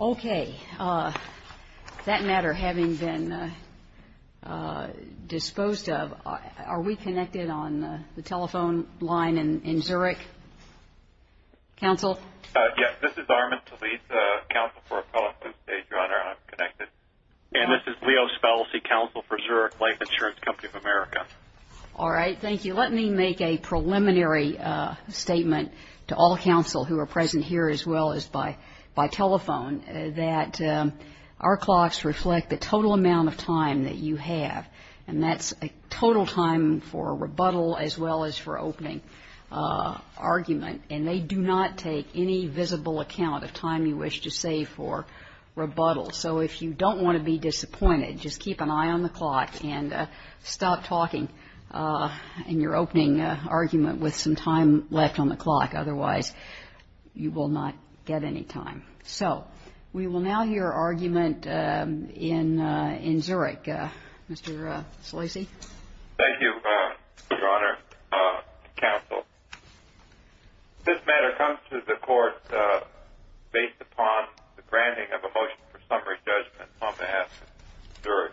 Okay, that matter having been disposed of, are we connected on the telephone line in Zurich? Council? Yes, this is Armin Talit, Council for Appellate Zoo Stage. Your Honor, I'm connected. And this is Leo Spellese, Council for Zurich Life Insurance Company of America. All right, thank you. Let me make a preliminary statement to all counsel who are present here as well as by telephone, that our clocks reflect the total amount of time that you have. And that's a total time for rebuttal as well as for opening argument. And they do not take any visible account of time you wish to save for rebuttal. So if you don't want to be disappointed, just keep an eye on the clock and stop talking in your opening argument with some time left on the clock. Otherwise, you will not get any time. So we will now hear argument in Zurich. Mr. Spellese? Thank you, Your Honor. Counsel, this matter comes to the court based upon the granting of a motion for summary judgment on behalf of Zurich.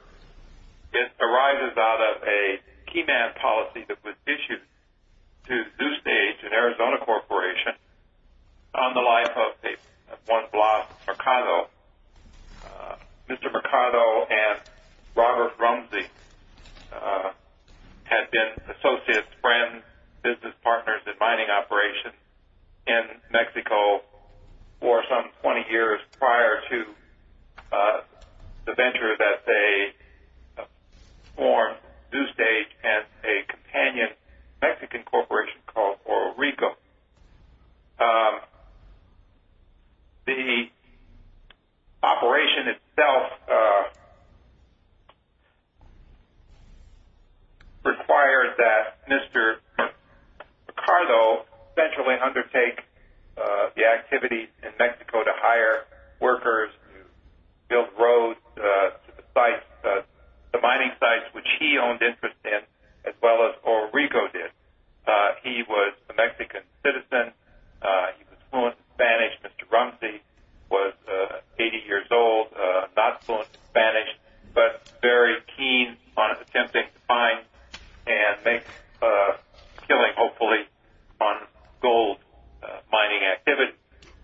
It arises out of a key man policy that was issued to Zoo Stage and Arizona Corporation on the life of a one-blood Mercado. Mr. Mercado and Robert Rumsey had been associates, friends, business partners, in mining operations in Mexico for some 20 years prior to the venture that they formed Zoo Stage as a companion Mexican corporation called Oro Rico. The operation itself required that Mr. Mercado essentially undertake the activities in Mexico to hire workers, build roads to the mining sites which he owned interest in as well as Oro Rico did. He was a Mexican citizen. He was fluent in Spanish. Mr. Rumsey was 80 years old, not fluent in Spanish, but very keen on attempting to find and make a killing, hopefully, on gold mining activity.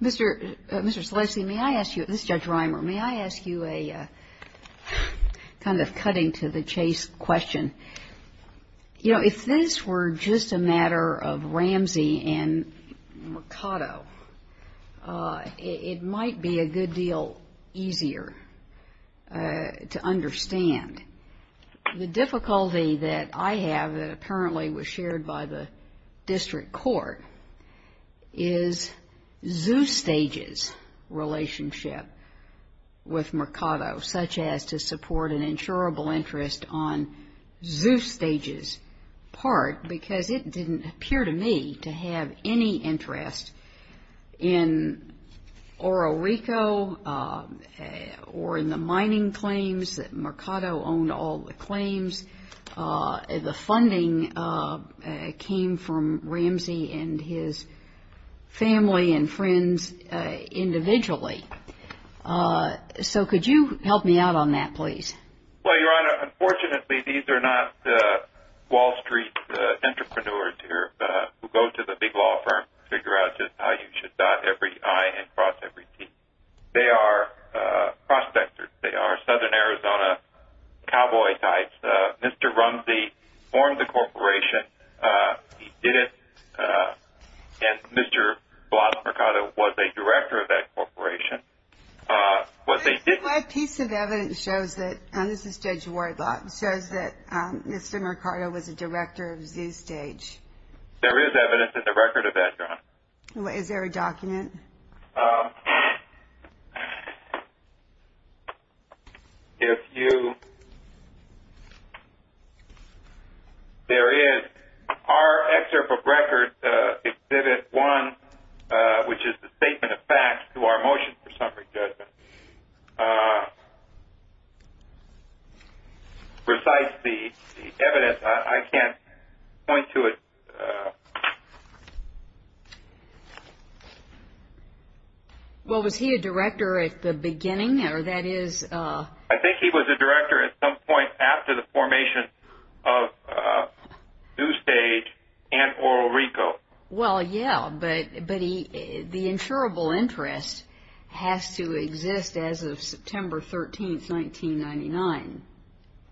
Mr. Spellese, may I ask you, this is Judge Reimer, may I ask you a kind of cutting to the chase question. You know, if this were just a matter of Ramsey and Mercado, it might be a good deal easier to understand. The difficulty that I have that apparently was shared by the district court is Zoo Stage's relationship with Mercado, such as to support an insurable interest on Zoo Stage's part, because it didn't appear to me to have any interest in Oro Rico or in the mining claims. Mercado owned all the claims. The funding came from Ramsey and his family and friends individually. So could you help me out on that, please? Well, Your Honor, unfortunately, these are not Wall Street entrepreneurs who go to the big law firm to figure out just how you should dot every I and cross every T. They are prospectors. They are Southern Arizona cowboy types. Mr. Ramsey formed the corporation. He didn't. And Mr. Bloss Mercado was a director of that corporation. That piece of evidence shows that Mr. Mercado was a director of Zoo Stage. There is evidence in the record of that, Your Honor. Is there a document? If you – there is. Our excerpt of record, Exhibit 1, which is the statement of facts to our motion for summary judgment, besides the evidence, I can't point to it. Well, was he a director at the beginning, or that is – I think he was a director at some point after the formation of Zoo Stage and Oro Rico. Well, yeah, but the insurable interest has to exist as of September 13, 1999.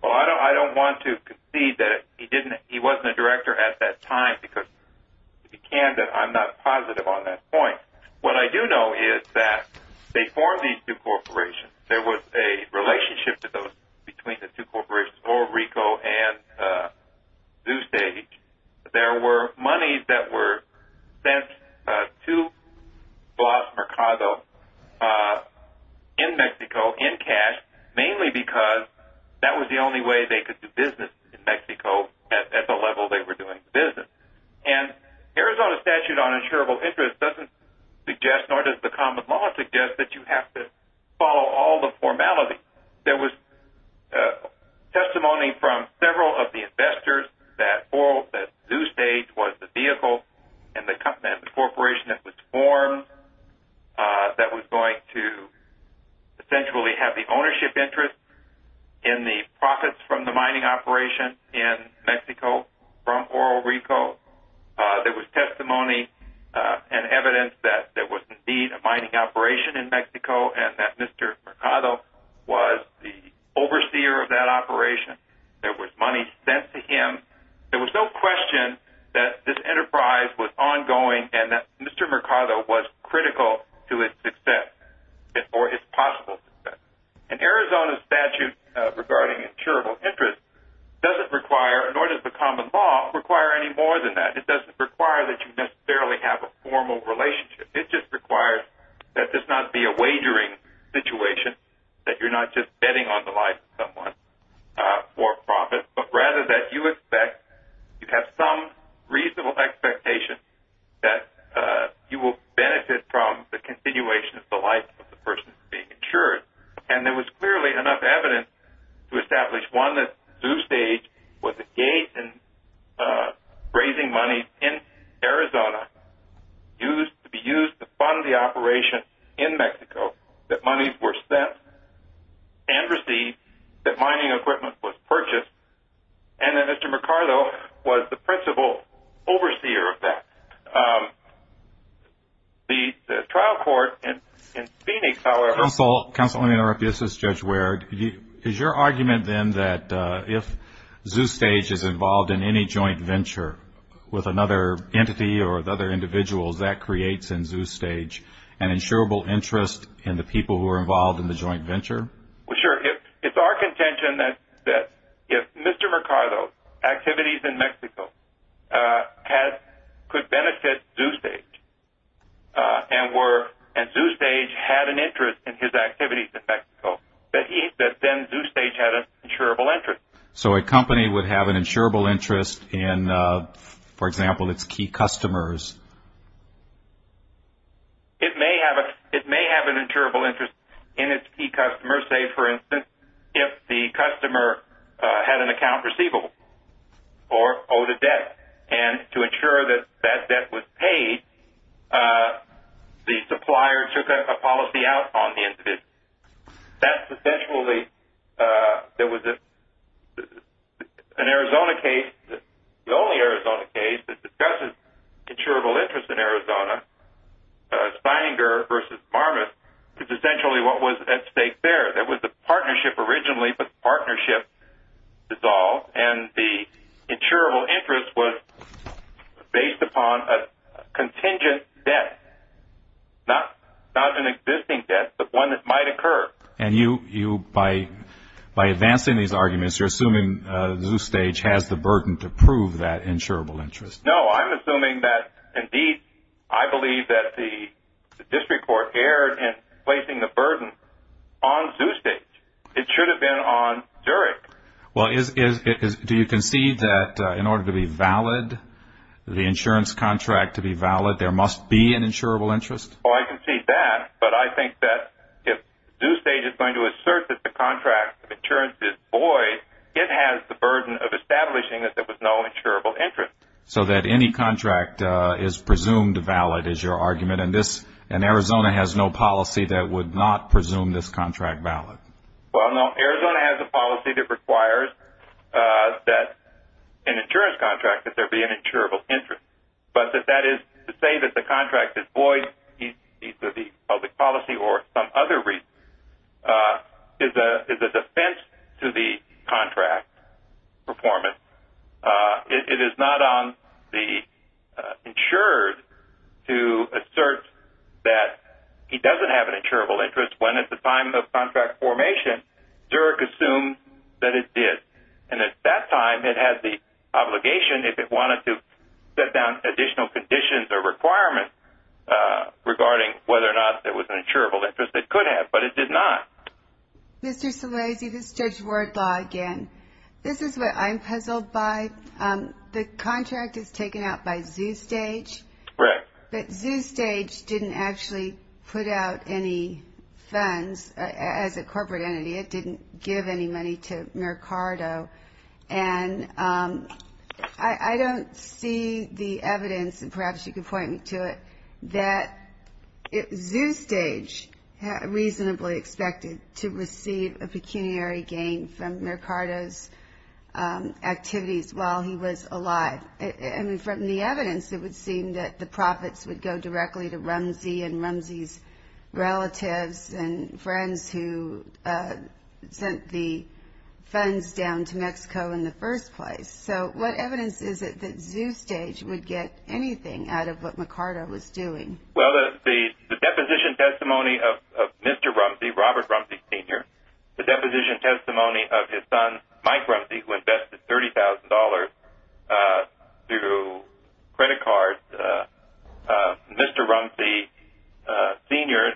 Well, I don't want to concede that he wasn't a director at that time, because if he can, then I'm not positive on that point. What I do know is that before these two corporations, there was a relationship between the two corporations, Oro Rico and Zoo Stage. There were monies that were sent to Blas Mercado in Mexico in cash, mainly because that was the only way they could do business in Mexico at the level they were doing business. And Arizona's statute on insurable interest doesn't suggest, nor does the common law suggest that you have to follow all the formality. There was testimony from several of the investors that Zoo Stage was the vehicle and the corporation that was formed that was going to essentially have the ownership interest in the profits from the mining operation in Mexico from Oro Rico. There was testimony and evidence that there was indeed a mining operation in Mexico and that Mr. Mercado was the overseer of that operation. There was money sent to him. There was no question that this enterprise was ongoing and that Mr. Mercado was critical to its success or its possible success. And Arizona's statute regarding insurable interest doesn't require, nor does the common law require any more than that. It doesn't require that you necessarily have a formal relationship. It just requires that this not be a wagering situation, that you're not just betting on the life of someone for profit, but rather that you expect you have some reasonable expectation that you will benefit from the continuation of the life of the person being insured. And there was clearly enough evidence to establish, it's one that Zoo Stage was engaged in raising money in Arizona to be used to fund the operation in Mexico, that money was sent and received, that mining equipment was purchased, and that Mr. Mercado was the principal overseer of that. The trial court in Phoenix, however, Counsel, let me interrupt you, this is Judge Ward. Is your argument then that if Zoo Stage is involved in any joint venture with another entity or other individuals, that creates in Zoo Stage an insurable interest in the people who are involved in the joint venture? Well, sure. It's our contention that if Mr. Mercado's activities in Mexico could benefit Zoo Stage and Zoo Stage had an interest in his activities in Mexico, that then Zoo Stage had an insurable interest. So a company would have an insurable interest in, for example, its key customers? It may have an insurable interest in its key customers. Say, for instance, if the customer had an account receivable or owed a debt, and to ensure that that debt was paid, the supplier took a policy out on the individual. That's essentially an Arizona case. The only Arizona case that discusses insurable interest in Arizona, Spyinger v. Marmis, is essentially what was at stake there. There was a partnership originally, but the partnership dissolved, and the insurable interest was based upon a contingent debt, not an existing debt, but one that might occur. And you, by advancing these arguments, you're assuming Zoo Stage has the burden to prove that insurable interest? No, I'm assuming that, indeed, I believe that the district court erred in placing the burden on Zoo Stage. It should have been on Zurich. Well, do you concede that in order to be valid, the insurance contract to be valid, there must be an insurable interest? Well, I concede that, but I think that if Zoo Stage is going to assert that the contract of insurance is void, it has the burden of establishing that there was no insurable interest. So that any contract is presumed valid is your argument, and Arizona has no policy that would not presume this contract valid? Well, no. Arizona has a policy that requires that an insurance contract, that there be an insurable interest. But that that is to say that the contract is void, either the public policy or some other reason, is a defense to the contract performance. It is not on the insured to assert that he doesn't have an insurable interest when at the time of contract formation, Zurich assumed that it did. And at that time, it had the obligation, if it wanted to, set down additional conditions or requirements regarding whether or not there was an insurable interest. It could have, but it did not. Mr. Salazzi, this is Judge Wardlaw again. This is what I'm puzzled by. The contract is taken out by Zoo Stage. Correct. But Zoo Stage didn't actually put out any funds as a corporate entity. It didn't give any money to Mercado. And I don't see the evidence, and perhaps you could point me to it, that Zoo Stage reasonably expected to receive a pecuniary gain from Mercado's activities while he was alive. From the evidence, it would seem that the profits would go directly to Rumsey and Rumsey's relatives and friends who sent the funds down to Mexico in the first place. So what evidence is it that Zoo Stage would get anything out of what Mercado was doing? Well, the deposition testimony of Mr. Rumsey, Robert Rumsey, Sr., the deposition testimony of his son, Mike Rumsey, who invested $30,000 through credit cards, Mr. Rumsey Sr.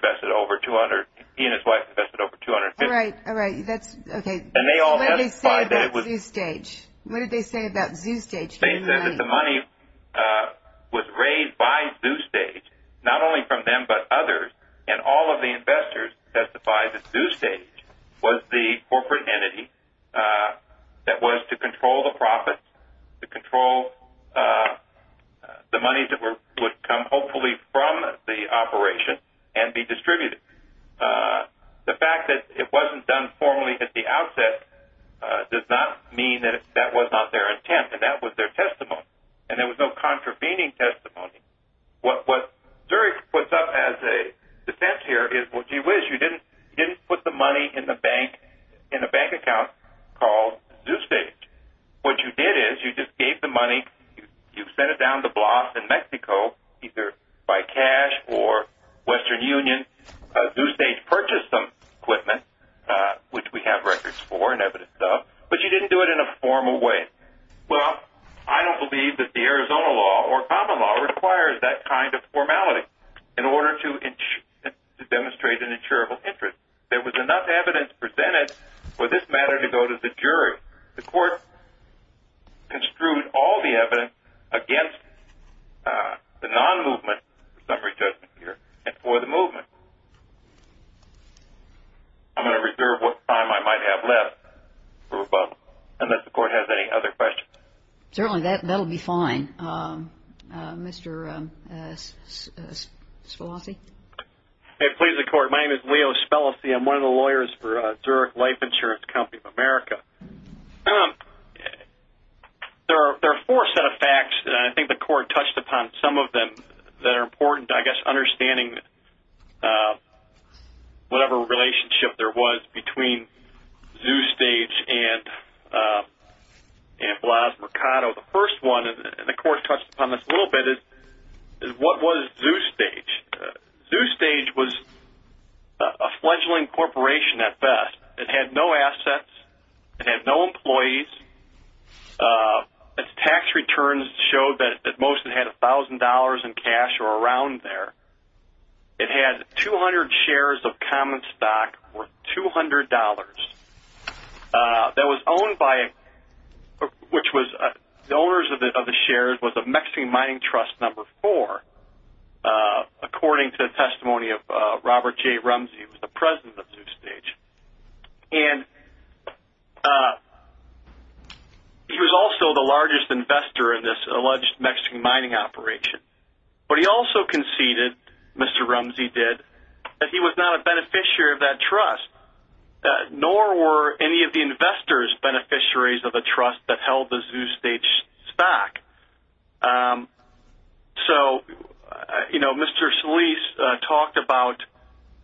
and his wife invested over $250,000. All right. What did they say about Zoo Stage? They said that the money was raised by Zoo Stage, not only from them but others, and all of the investors testified that Zoo Stage was the corporate entity that was to control the profits, to control the money that would come hopefully from the operation and be distributed. The fact that it wasn't done formally at the outset does not mean that that was not their intent and that was their testimony, and there was no contravening testimony. What Zurich puts up as a defense here is, well, gee whiz, you didn't put the money in the bank account called Zoo Stage. What you did is you just gave the money, you sent it down to BLAS in Mexico, either by cash or Western Union. Zoo Stage purchased some equipment, which we have records for and evidence of, but you didn't do it in a formal way. Well, I don't believe that the Arizona law or common law requires that kind of formality in order to demonstrate an insurable interest. There was enough evidence presented for this matter to go to the jury. The court construed all the evidence against the non-movement, the summary judgment here, and for the movement. I'm going to reserve what time I might have left for rebuttal, unless the court has any other questions. Certainly, that will be fine. Mr. Spelosy? May it please the court, my name is Leo Spelosy. I'm one of the lawyers for Zurich Life Insurance Company of America. There are four set of facts that I think the court touched upon. Some of them that are important to understanding whatever relationship there was between Zoo Stage and BLAS Mercado. The first one, and the court touched upon this a little bit, is what was Zoo Stage? Zoo Stage was a fledgling corporation at best. It had no assets. It had no employees. Its tax returns showed that at most it had $1,000 in cash or around there. It had 200 shares of common stock worth $200. The owners of the shares was the Mexican Mining Trust No. 4, according to the testimony of Robert J. Rumsey, who was the president of Zoo Stage. He was also the largest investor in this alleged Mexican mining operation. But he also conceded, Mr. Rumsey did, that he was not a beneficiary of that trust. Nor were any of the investors beneficiaries of the trust that held the Zoo Stage stock. Mr. Solis talked about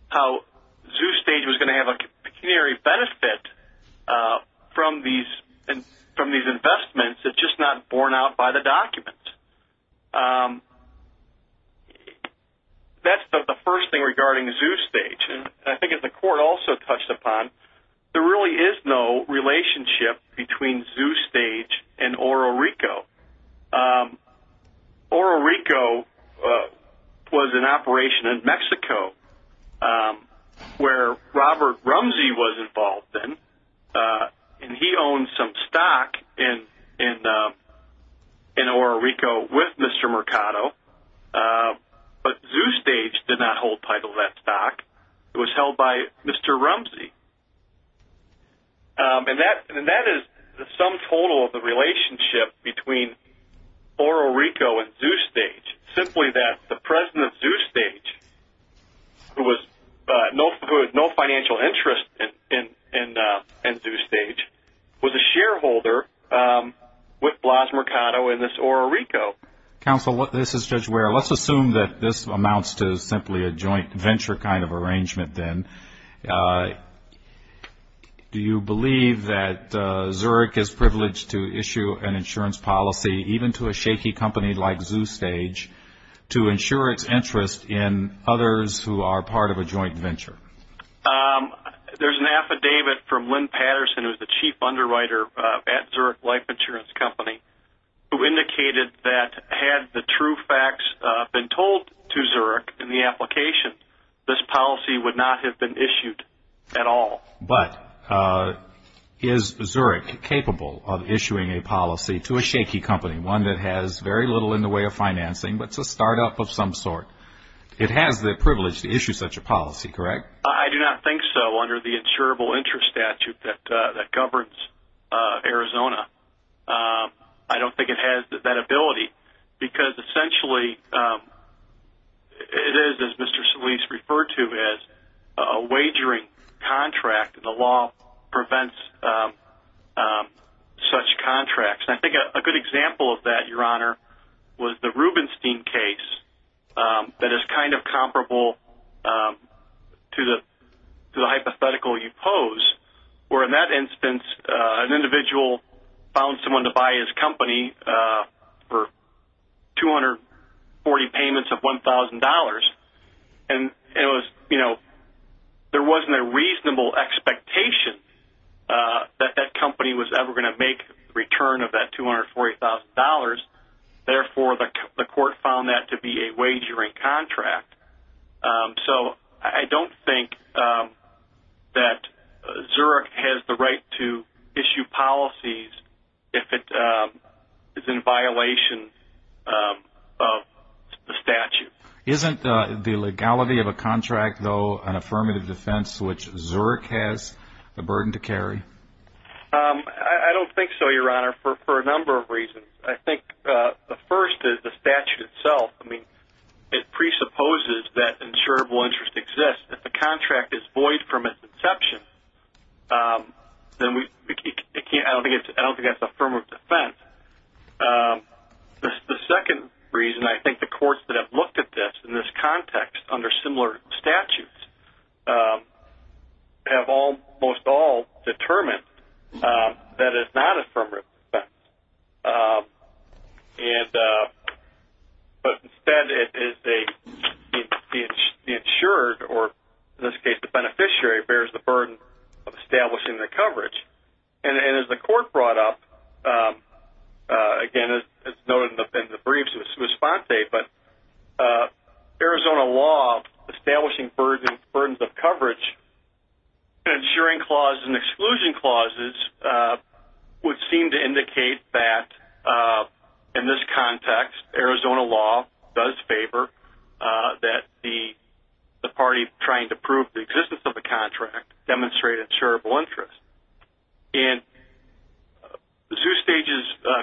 how Zoo Stage was going to have a pecuniary benefit from these investments. It's just not borne out by the documents. That's the first thing regarding Zoo Stage. I think the court also touched upon, there really is no relationship between Zoo Stage and Oro Rico. Oro Rico was an operation in Mexico, where Robert Rumsey was involved in. He owned some stock in Oro Rico with Mr. Mercado. But Zoo Stage did not hold title of that stock. It was held by Mr. Rumsey. That is the sum total of the relationship between Oro Rico and Zoo Stage. Simply that the president of Zoo Stage, who had no financial interest in Zoo Stage, was a shareholder with Blas Mercado in this Oro Rico. Counsel, this is Judge Ware. Let's assume that this amounts to simply a joint venture kind of arrangement, then. Do you believe that Zurich is privileged to issue an insurance policy, even to a shaky company like Zoo Stage, to ensure its interest in others who are part of a joint venture? There's an affidavit from Lynn Patterson, who is the chief underwriter at Zurich Life Insurance Company, who indicated that had the true facts been told to Zurich in the application, this policy would not have been issued at all. But is Zurich capable of issuing a policy to a shaky company, one that has very little in the way of financing, but is a startup of some sort? It has the privilege to issue such a policy, correct? I do not think so, under the insurable interest statute that governs Arizona. I don't think it has that ability, because essentially it is, as Mr. Solis referred to, a wagering contract. The law prevents such contracts. I think a good example of that, Your Honor, was the Rubenstein case that is kind of comparable to the hypothetical you pose, where in that instance an individual found someone to buy his company for 240 payments of $1,000. There wasn't a reasonable expectation that that company was ever going to make a return of that $240,000. Therefore, the court found that to be a wagering contract. So I don't think that Zurich has the right to issue policies if it is in violation of the statute. Isn't the legality of a contract, though, an affirmative defense, which Zurich has the burden to carry? I don't think so, Your Honor, for a number of reasons. I think the first is the statute itself. It presupposes that insurable interest exists. If the contract is void from its inception, then I don't think that's affirmative defense. The second reason, I think the courts that have looked at this in this context under similar statutes, have almost all determined that it's not affirmative defense. But instead, the insured, or in this case the beneficiary, bears the burden of establishing the coverage. And as the court brought up, again, as noted in the briefs, it was Fonte, but Arizona law establishing burdens of coverage and insuring clauses and exclusion clauses would seem to indicate that, in this context, Arizona law does favor that the party trying to prove the existence of a contract demonstrated insurable interest. And the two stages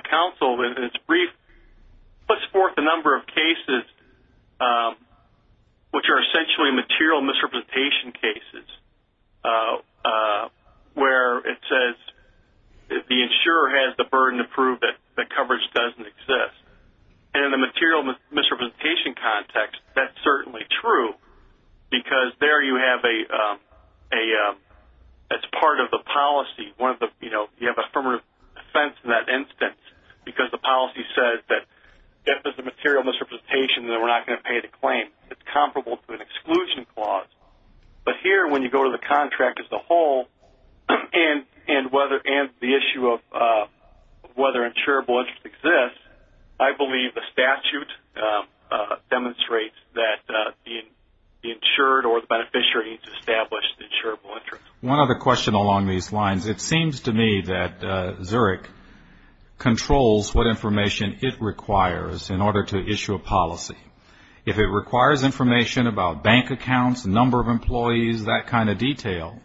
counsel, in its brief, puts forth a number of cases which are essentially material misrepresentation cases, where it says the insurer has the burden to prove that the coverage doesn't exist. And in the material misrepresentation context, that's certainly true, because there you have, as part of the policy, you have affirmative defense in that instance, because the policy says that if it's a material misrepresentation, then we're not going to pay the claim. It's comparable to an exclusion clause. But here, when you go to the contract as a whole, and the issue of whether insurable interest exists, I believe the statute demonstrates that the insured or the beneficiary needs to establish the insurable interest. One other question along these lines. It seems to me that Zurich controls what information it requires in order to issue a policy. If it requires information about bank accounts, number of employees, that kind of detail,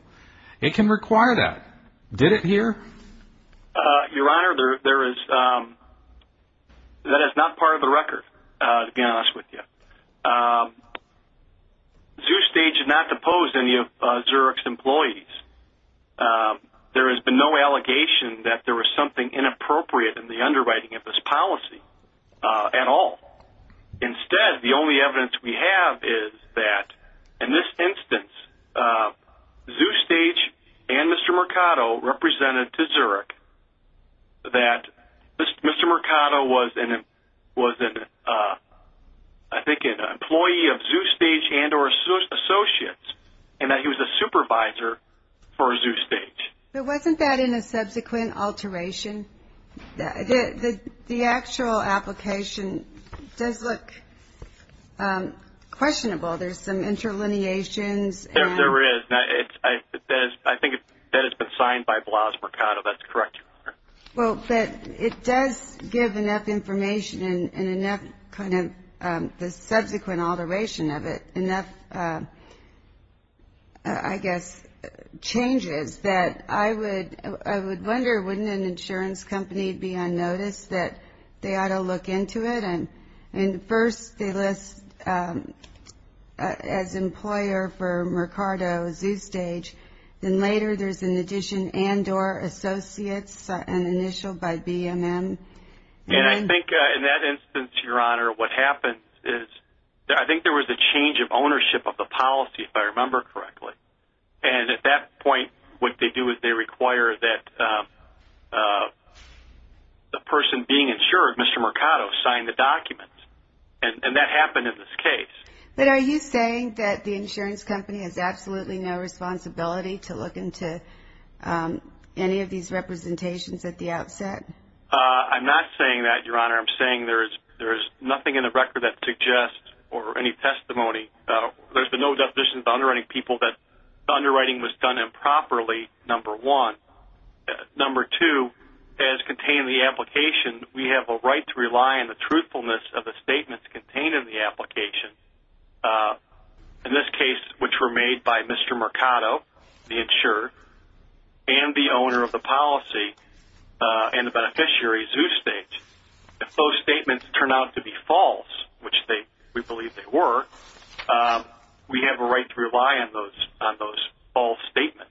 it can require that. Did it here? Your Honor, that is not part of the record, to be honest with you. The two stages did not depose any of Zurich's employees. There has been no allegation that there was something inappropriate in the underwriting of this policy at all. Instead, the only evidence we have is that, in this instance, ZooStage and Mr. Mercado represented to Zurich that Mr. Mercado was, I think, an employee of ZooStage and or associates, and that he was a supervisor for ZooStage. But wasn't that in a subsequent alteration? The actual application does look questionable. There's some interlineations. There is. I think that it's been signed by Blas Mercado. That's correct, Your Honor. Well, but it does give enough information and enough kind of the subsequent alteration of it, and enough, I guess, changes that I would wonder, wouldn't an insurance company be on notice that they ought to look into it? And first they list as employer for Mercado, ZooStage. Then later there's an addition and or associates, an initial by BMM. And I think in that instance, Your Honor, what happens is I think there was a change of ownership of the policy, if I remember correctly. And at that point what they do is they require that the person being insured, Mr. Mercado, sign the document. And that happened in this case. But are you saying that the insurance company has absolutely no responsibility to look into any of these representations at the outset? I'm not saying that, Your Honor. I'm saying there is nothing in the record that suggests or any testimony. There's been no definition of the underwriting people that the underwriting was done improperly, number one. Number two, as contained in the application, we have a right to rely on the truthfulness of the statements contained in the application, in this case which were made by Mr. Mercado, the insurer, and the owner of the policy and the beneficiary, ZooStage. If those statements turn out to be false, which we believe they were, we have a right to rely on those false statements.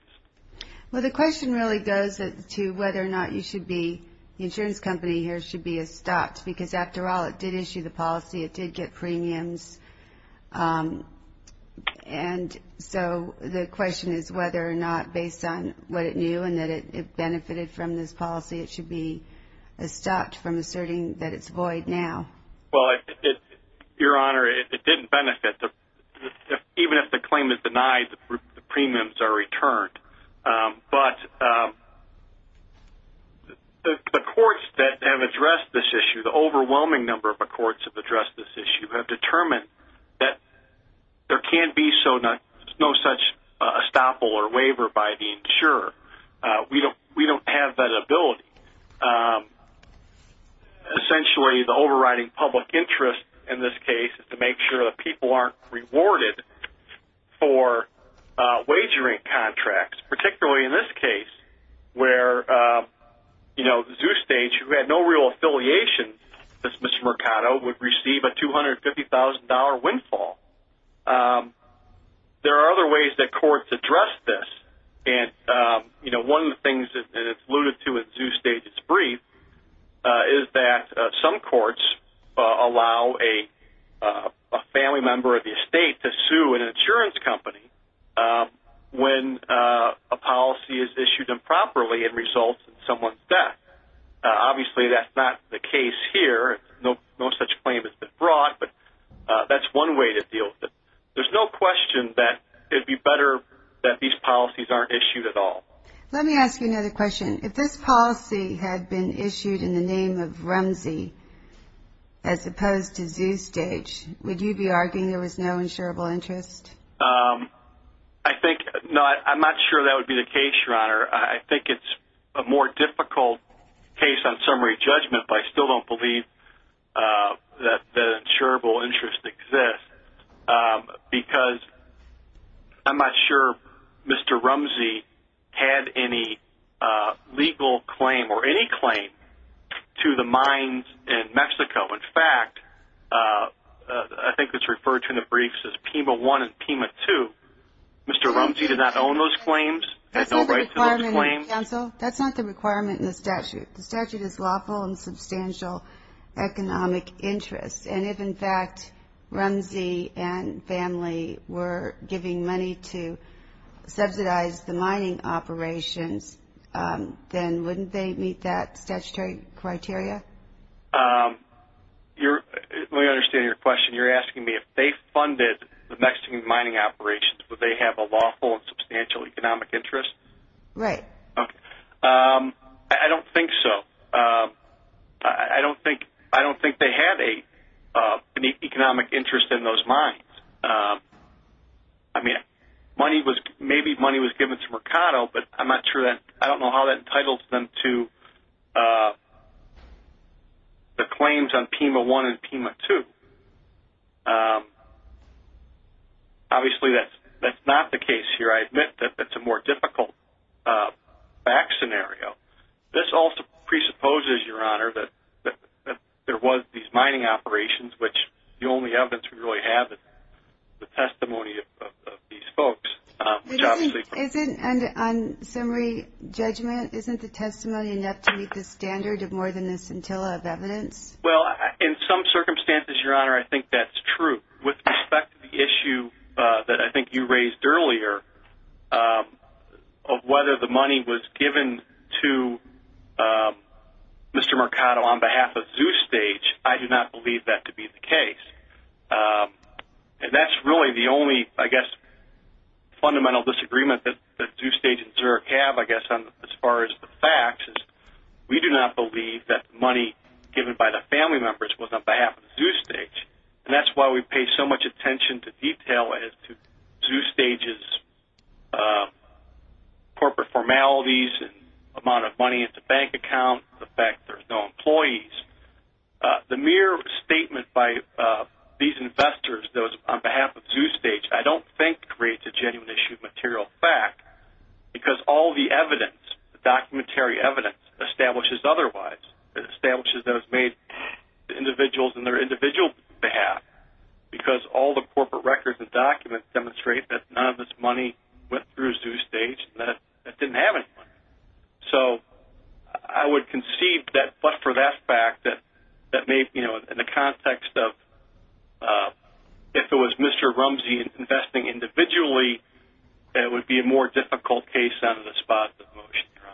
Well, the question really goes to whether or not you should be, the insurance company here, because, after all, it did issue the policy. It did get premiums. And so the question is whether or not, based on what it knew and that it benefited from this policy, it should be stopped from asserting that it's void now. Well, Your Honor, it didn't benefit. Even if the claim is denied, the premiums are returned. But the courts that have addressed this issue, the overwhelming number of courts that have addressed this issue, have determined that there can be no such estoppel or waiver by the insurer. We don't have that ability. Essentially, the overriding public interest in this case is to make sure that people aren't rewarded for wagering contracts, particularly in this case where ZooStage, who had no real affiliation with Mr. Mercado, would receive a $250,000 windfall. There are other ways that courts address this. One of the things, and it's alluded to in ZooStage's brief, is that some courts allow a family member of the estate to sue an insurance company when a policy is issued improperly and results in someone's death. Obviously, that's not the case here. No such claim has been brought, but that's one way to deal with it. There's no question that it would be better that these policies aren't issued at all. Let me ask you another question. If this policy had been issued in the name of RUMSE, as opposed to ZooStage, would you be arguing there was no insurable interest? I'm not sure that would be the case, Your Honor. I think it's a more difficult case on summary judgment if I still don't believe that an insurable interest exists, because I'm not sure Mr. RUMSE had any legal claim or any claim to the mines in Mexico. In fact, I think it's referred to in the briefs as PEMA I and PEMA II. Mr. RUMSE did not own those claims. That's not the requirement in the statute. The statute is lawful and substantial economic interest. And if, in fact, RUMSE and family were giving money to subsidize the mining operations, then wouldn't they meet that statutory criteria? Let me understand your question. You're asking me if they funded the Mexican mining operations, would they have a lawful and substantial economic interest? Right. Okay. I don't think so. I don't think they had an economic interest in those mines. I mean, maybe money was given to Mercado, but I don't know how that entitles them to the claims on PEMA I and PEMA II. Obviously, that's not the case here. I admit that that's a more difficult back scenario. This also presupposes, Your Honor, that there was these mining operations, which the only evidence we really have is the testimony of these folks. On summary judgment, isn't the testimony enough to meet the standard of more than a scintilla of evidence? Well, in some circumstances, Your Honor, I think that's true. With respect to the issue that I think you raised earlier, of whether the money was given to Mr. Mercado on behalf of ZooStage, I do not believe that to be the case. And that's really the only, I guess, fundamental disagreement that ZooStage and Zurich have, I guess, as far as the facts. We do not believe that the money given by the family members was on behalf of ZooStage, and that's why we pay so much attention to detail as to ZooStage's corporate formalities and amount of money in the bank account, the fact there's no employees. The mere statement by these investors, those on behalf of ZooStage, I don't think creates a genuine issue of material fact, because all the evidence, the documentary evidence, establishes otherwise. It establishes that it was made to individuals on their individual behalf, because all the corporate records and documents demonstrate that none of this money went through ZooStage and that it didn't have any money. So I would concede that, but for that fact, that maybe in the context of if it was Mr. Rumsey investing individually, that it would be a more difficult case out of the spots of motion, Your Honor.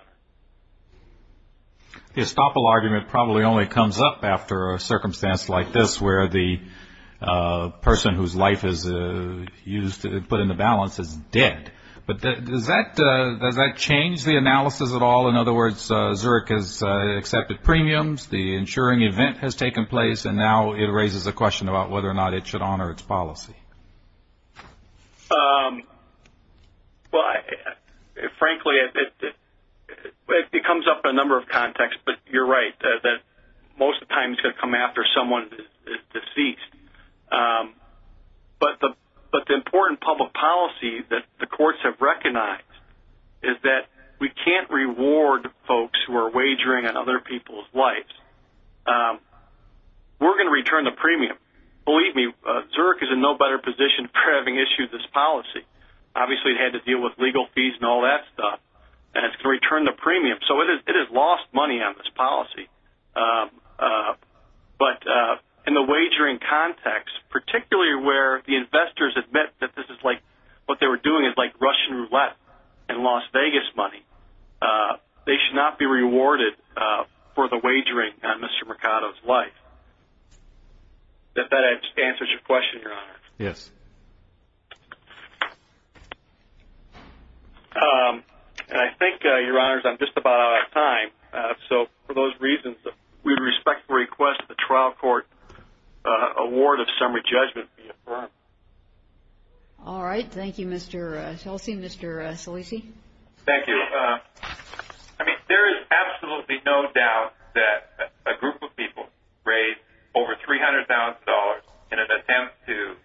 The estoppel argument probably only comes up after a circumstance like this, where the person whose life is put into balance is dead. But does that change the analysis at all? In other words, Zurich has accepted premiums, the insuring event has taken place, and now it raises a question about whether or not it should honor its policy. Frankly, it comes up in a number of contexts, but you're right. Most of the time it's going to come after someone is deceased. But the important public policy that the courts have recognized is that we can't reward folks who are wagering on other people's lives. We're going to return the premium. Believe me, Zurich is in no better position for having issued this policy. Obviously it had to deal with legal fees and all that stuff, and it's going to return the premium. So it has lost money on this policy. But in the wagering context, particularly where the investors admit that this is like, what they were doing is like Russian roulette and Las Vegas money, they should not be rewarded for the wagering on Mr. Mercado's life. Does that answer your question, Your Honor? Yes. And I think, Your Honors, I'm just about out of time. So for those reasons, we would respectfully request the trial court award of summary judgment be affirmed. All right. Thank you, Mr. Chelsea. Mr. Salisi? Thank you. I mean, there is absolutely no doubt that a group of people raised over $300,000 in an attempt to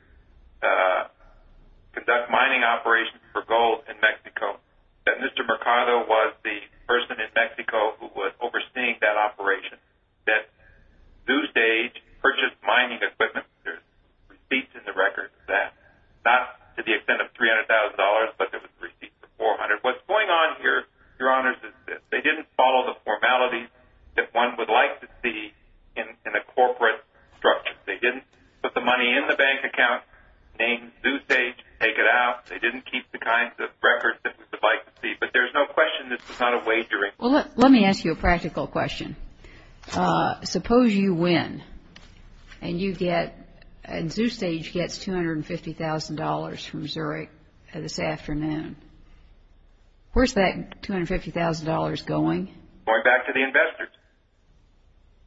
conduct mining operations for gold in Mexico, that Mr. Mercado was the person in Mexico who was overseeing that operation, that Zustage purchased mining equipment. There are receipts in the records of that. Not to the extent of $300,000, but there were receipts of $400,000. What's going on here, Your Honors, is that they didn't follow the formalities that one would like to see in a corporate structure. They didn't put the money in the bank account, name Zustage, take it out. They didn't keep the kinds of records that we would like to see. But there's no question this was not a wagering. Well, let me ask you a practical question. Suppose you win and Zustage gets $250,000 from Zurich this afternoon. Where's that $250,000 going? Going back to the investors.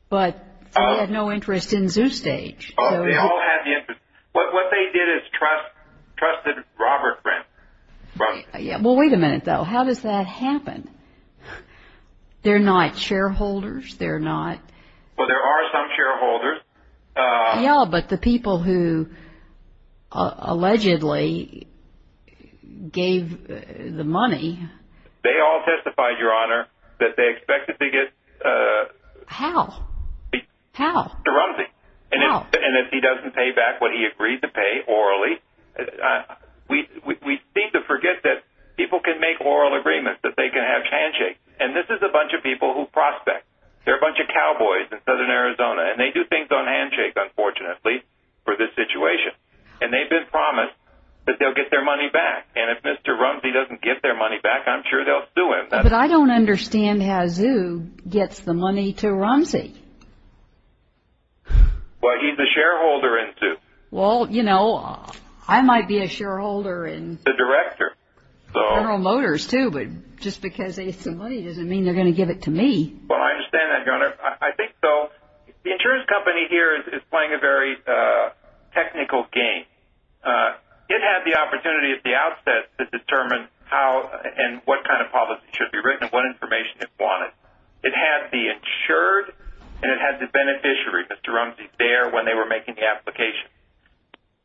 But they had no interest in Zustage. Oh, they all had the interest. What they did is trusted Robert Brent. Well, wait a minute, though. How does that happen? They're not shareholders. Well, there are some shareholders. Yeah, but the people who allegedly gave the money. They all testified, Your Honor, that they expected to get Mr. Rumsey. And if he doesn't pay back what he agreed to pay orally, we seem to forget that people can make oral agreements, that they can have handshakes. And this is a bunch of people who prospect. They're a bunch of cowboys in southern Arizona. And they do things on handshakes, unfortunately, for this situation. And they've been promised that they'll get their money back. And if Mr. Rumsey doesn't get their money back, I'm sure they'll sue him. But I don't understand how Zu gets the money to Rumsey. Well, he's a shareholder in Zu. Well, you know, I might be a shareholder in General Motors, too, but just because they get some money doesn't mean they're going to give it to me. Well, I understand that, Your Honor. I think so. The insurance company here is playing a very technical game. It had the opportunity at the outset to determine how and what kind of policy should be written and what information it wanted. It had the insured and it had the beneficiary, Mr. Rumsey, there when they were making the application.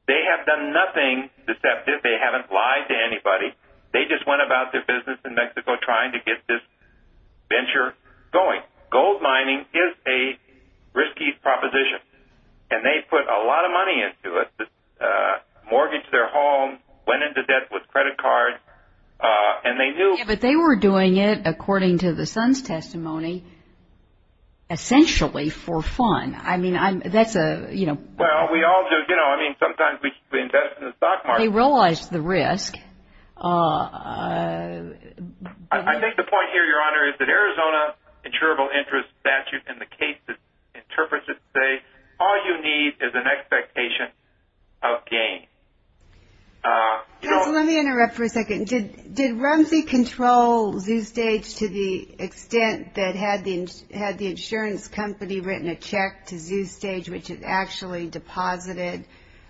They have done nothing deceptive. They haven't lied to anybody. They just went about their business in Mexico trying to get this venture going. Gold mining is a risky proposition, and they put a lot of money into it, mortgaged their home, went into debt with credit cards, and they knew. Yeah, but they were doing it, according to the son's testimony, essentially for fun. I mean, that's a, you know. Well, we all do. You know, I mean, sometimes we invest in the stock market. They realized the risk. I think the point here, Your Honor, is that Arizona insurable interest statute and the case interprets it to say all you need is an expectation of gain. Let me interrupt for a second. Did Rumsey control ZooStage to the extent that had the insurance company written a check to ZooStage, which had actually deposited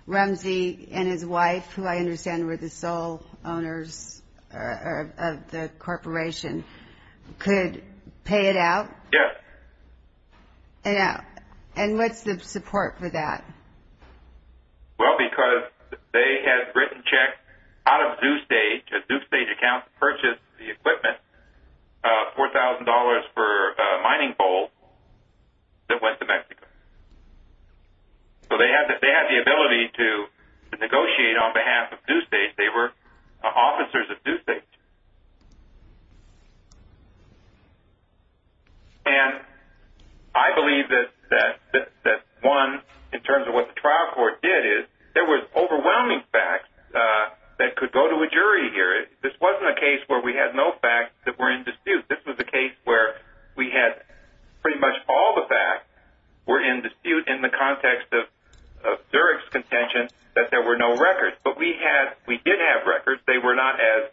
Rumsey and his wife, who I understand were the sole owners of the corporation, could pay it out? Yes. And what's the support for that? Well, because they had written checks out of ZooStage, a ZooStage account that purchased the equipment, $4,000 for a mining pole that went to Mexico. So they had the ability to negotiate on behalf of ZooStage. They were officers of ZooStage. And I believe that one, in terms of what the trial court did, is there was overwhelming facts that could go to a jury here. This wasn't a case where we had no facts that were in dispute. This was a case where we had pretty much all the facts were in dispute in the context of Zurich's contention that there were no records. But we did have records. They were not as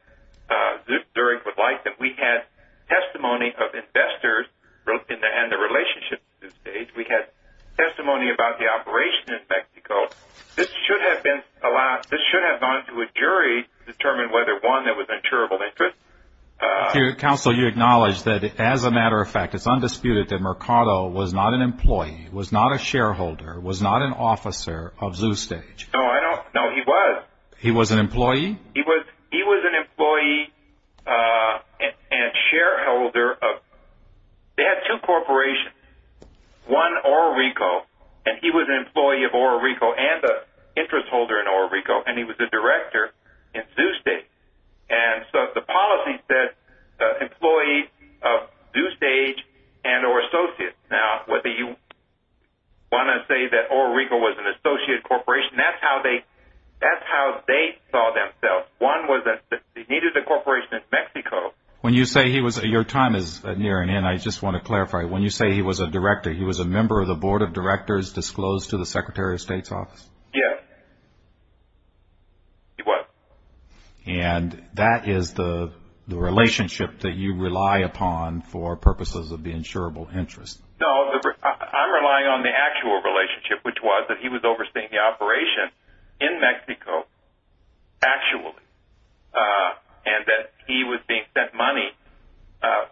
Zurich would like them. We had testimony of investors and the relationship with ZooStage. We had testimony about the operation in Mexico. This should have gone to a jury to determine whether, one, there was an insurable interest. Counsel, you acknowledge that, as a matter of fact, it's undisputed that Mercado was not an employee, was not a shareholder, was not an officer of ZooStage. No, he was. He was an employee? He was an employee and shareholder. They had two corporations, one Oro Rico, and he was an employee of Oro Rico and the interest holder in Oro Rico, and he was the director in ZooStage. And so the policy said employees of ZooStage and or associates. Now, whether you want to say that Oro Rico was an associate corporation, that's how they saw themselves. One was that they needed a corporation in Mexico. When you say he was a director, he was a member of the board of directors disclosed to the Secretary of State's office? Yes, he was. And that is the relationship that you rely upon for purposes of the insurable interest? No, I'm relying on the actual relationship, which was that he was overseeing the operation in Mexico, actually, and that he was being sent money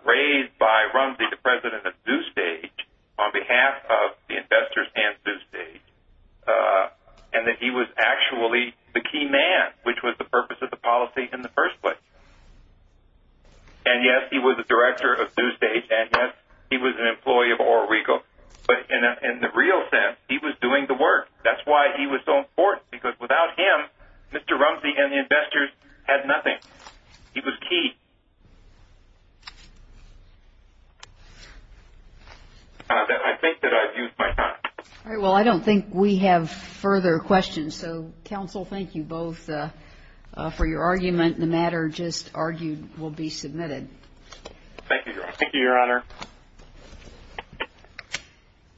raised by Rumsey, the president of ZooStage, on behalf of the investors and ZooStage, and that he was actually the key man, which was the purpose of the policy in the first place. And, yes, he was the director of ZooStage, and, yes, he was an employee of Oro Rico, but in the real sense, he was doing the work. That's why he was so important, because without him, Mr. Rumsey and the investors had nothing. He was key. I think that I've used my time. All right, well, I don't think we have further questions. So, counsel, thank you both for your argument. The matter just argued will be submitted. Thank you, Your Honor.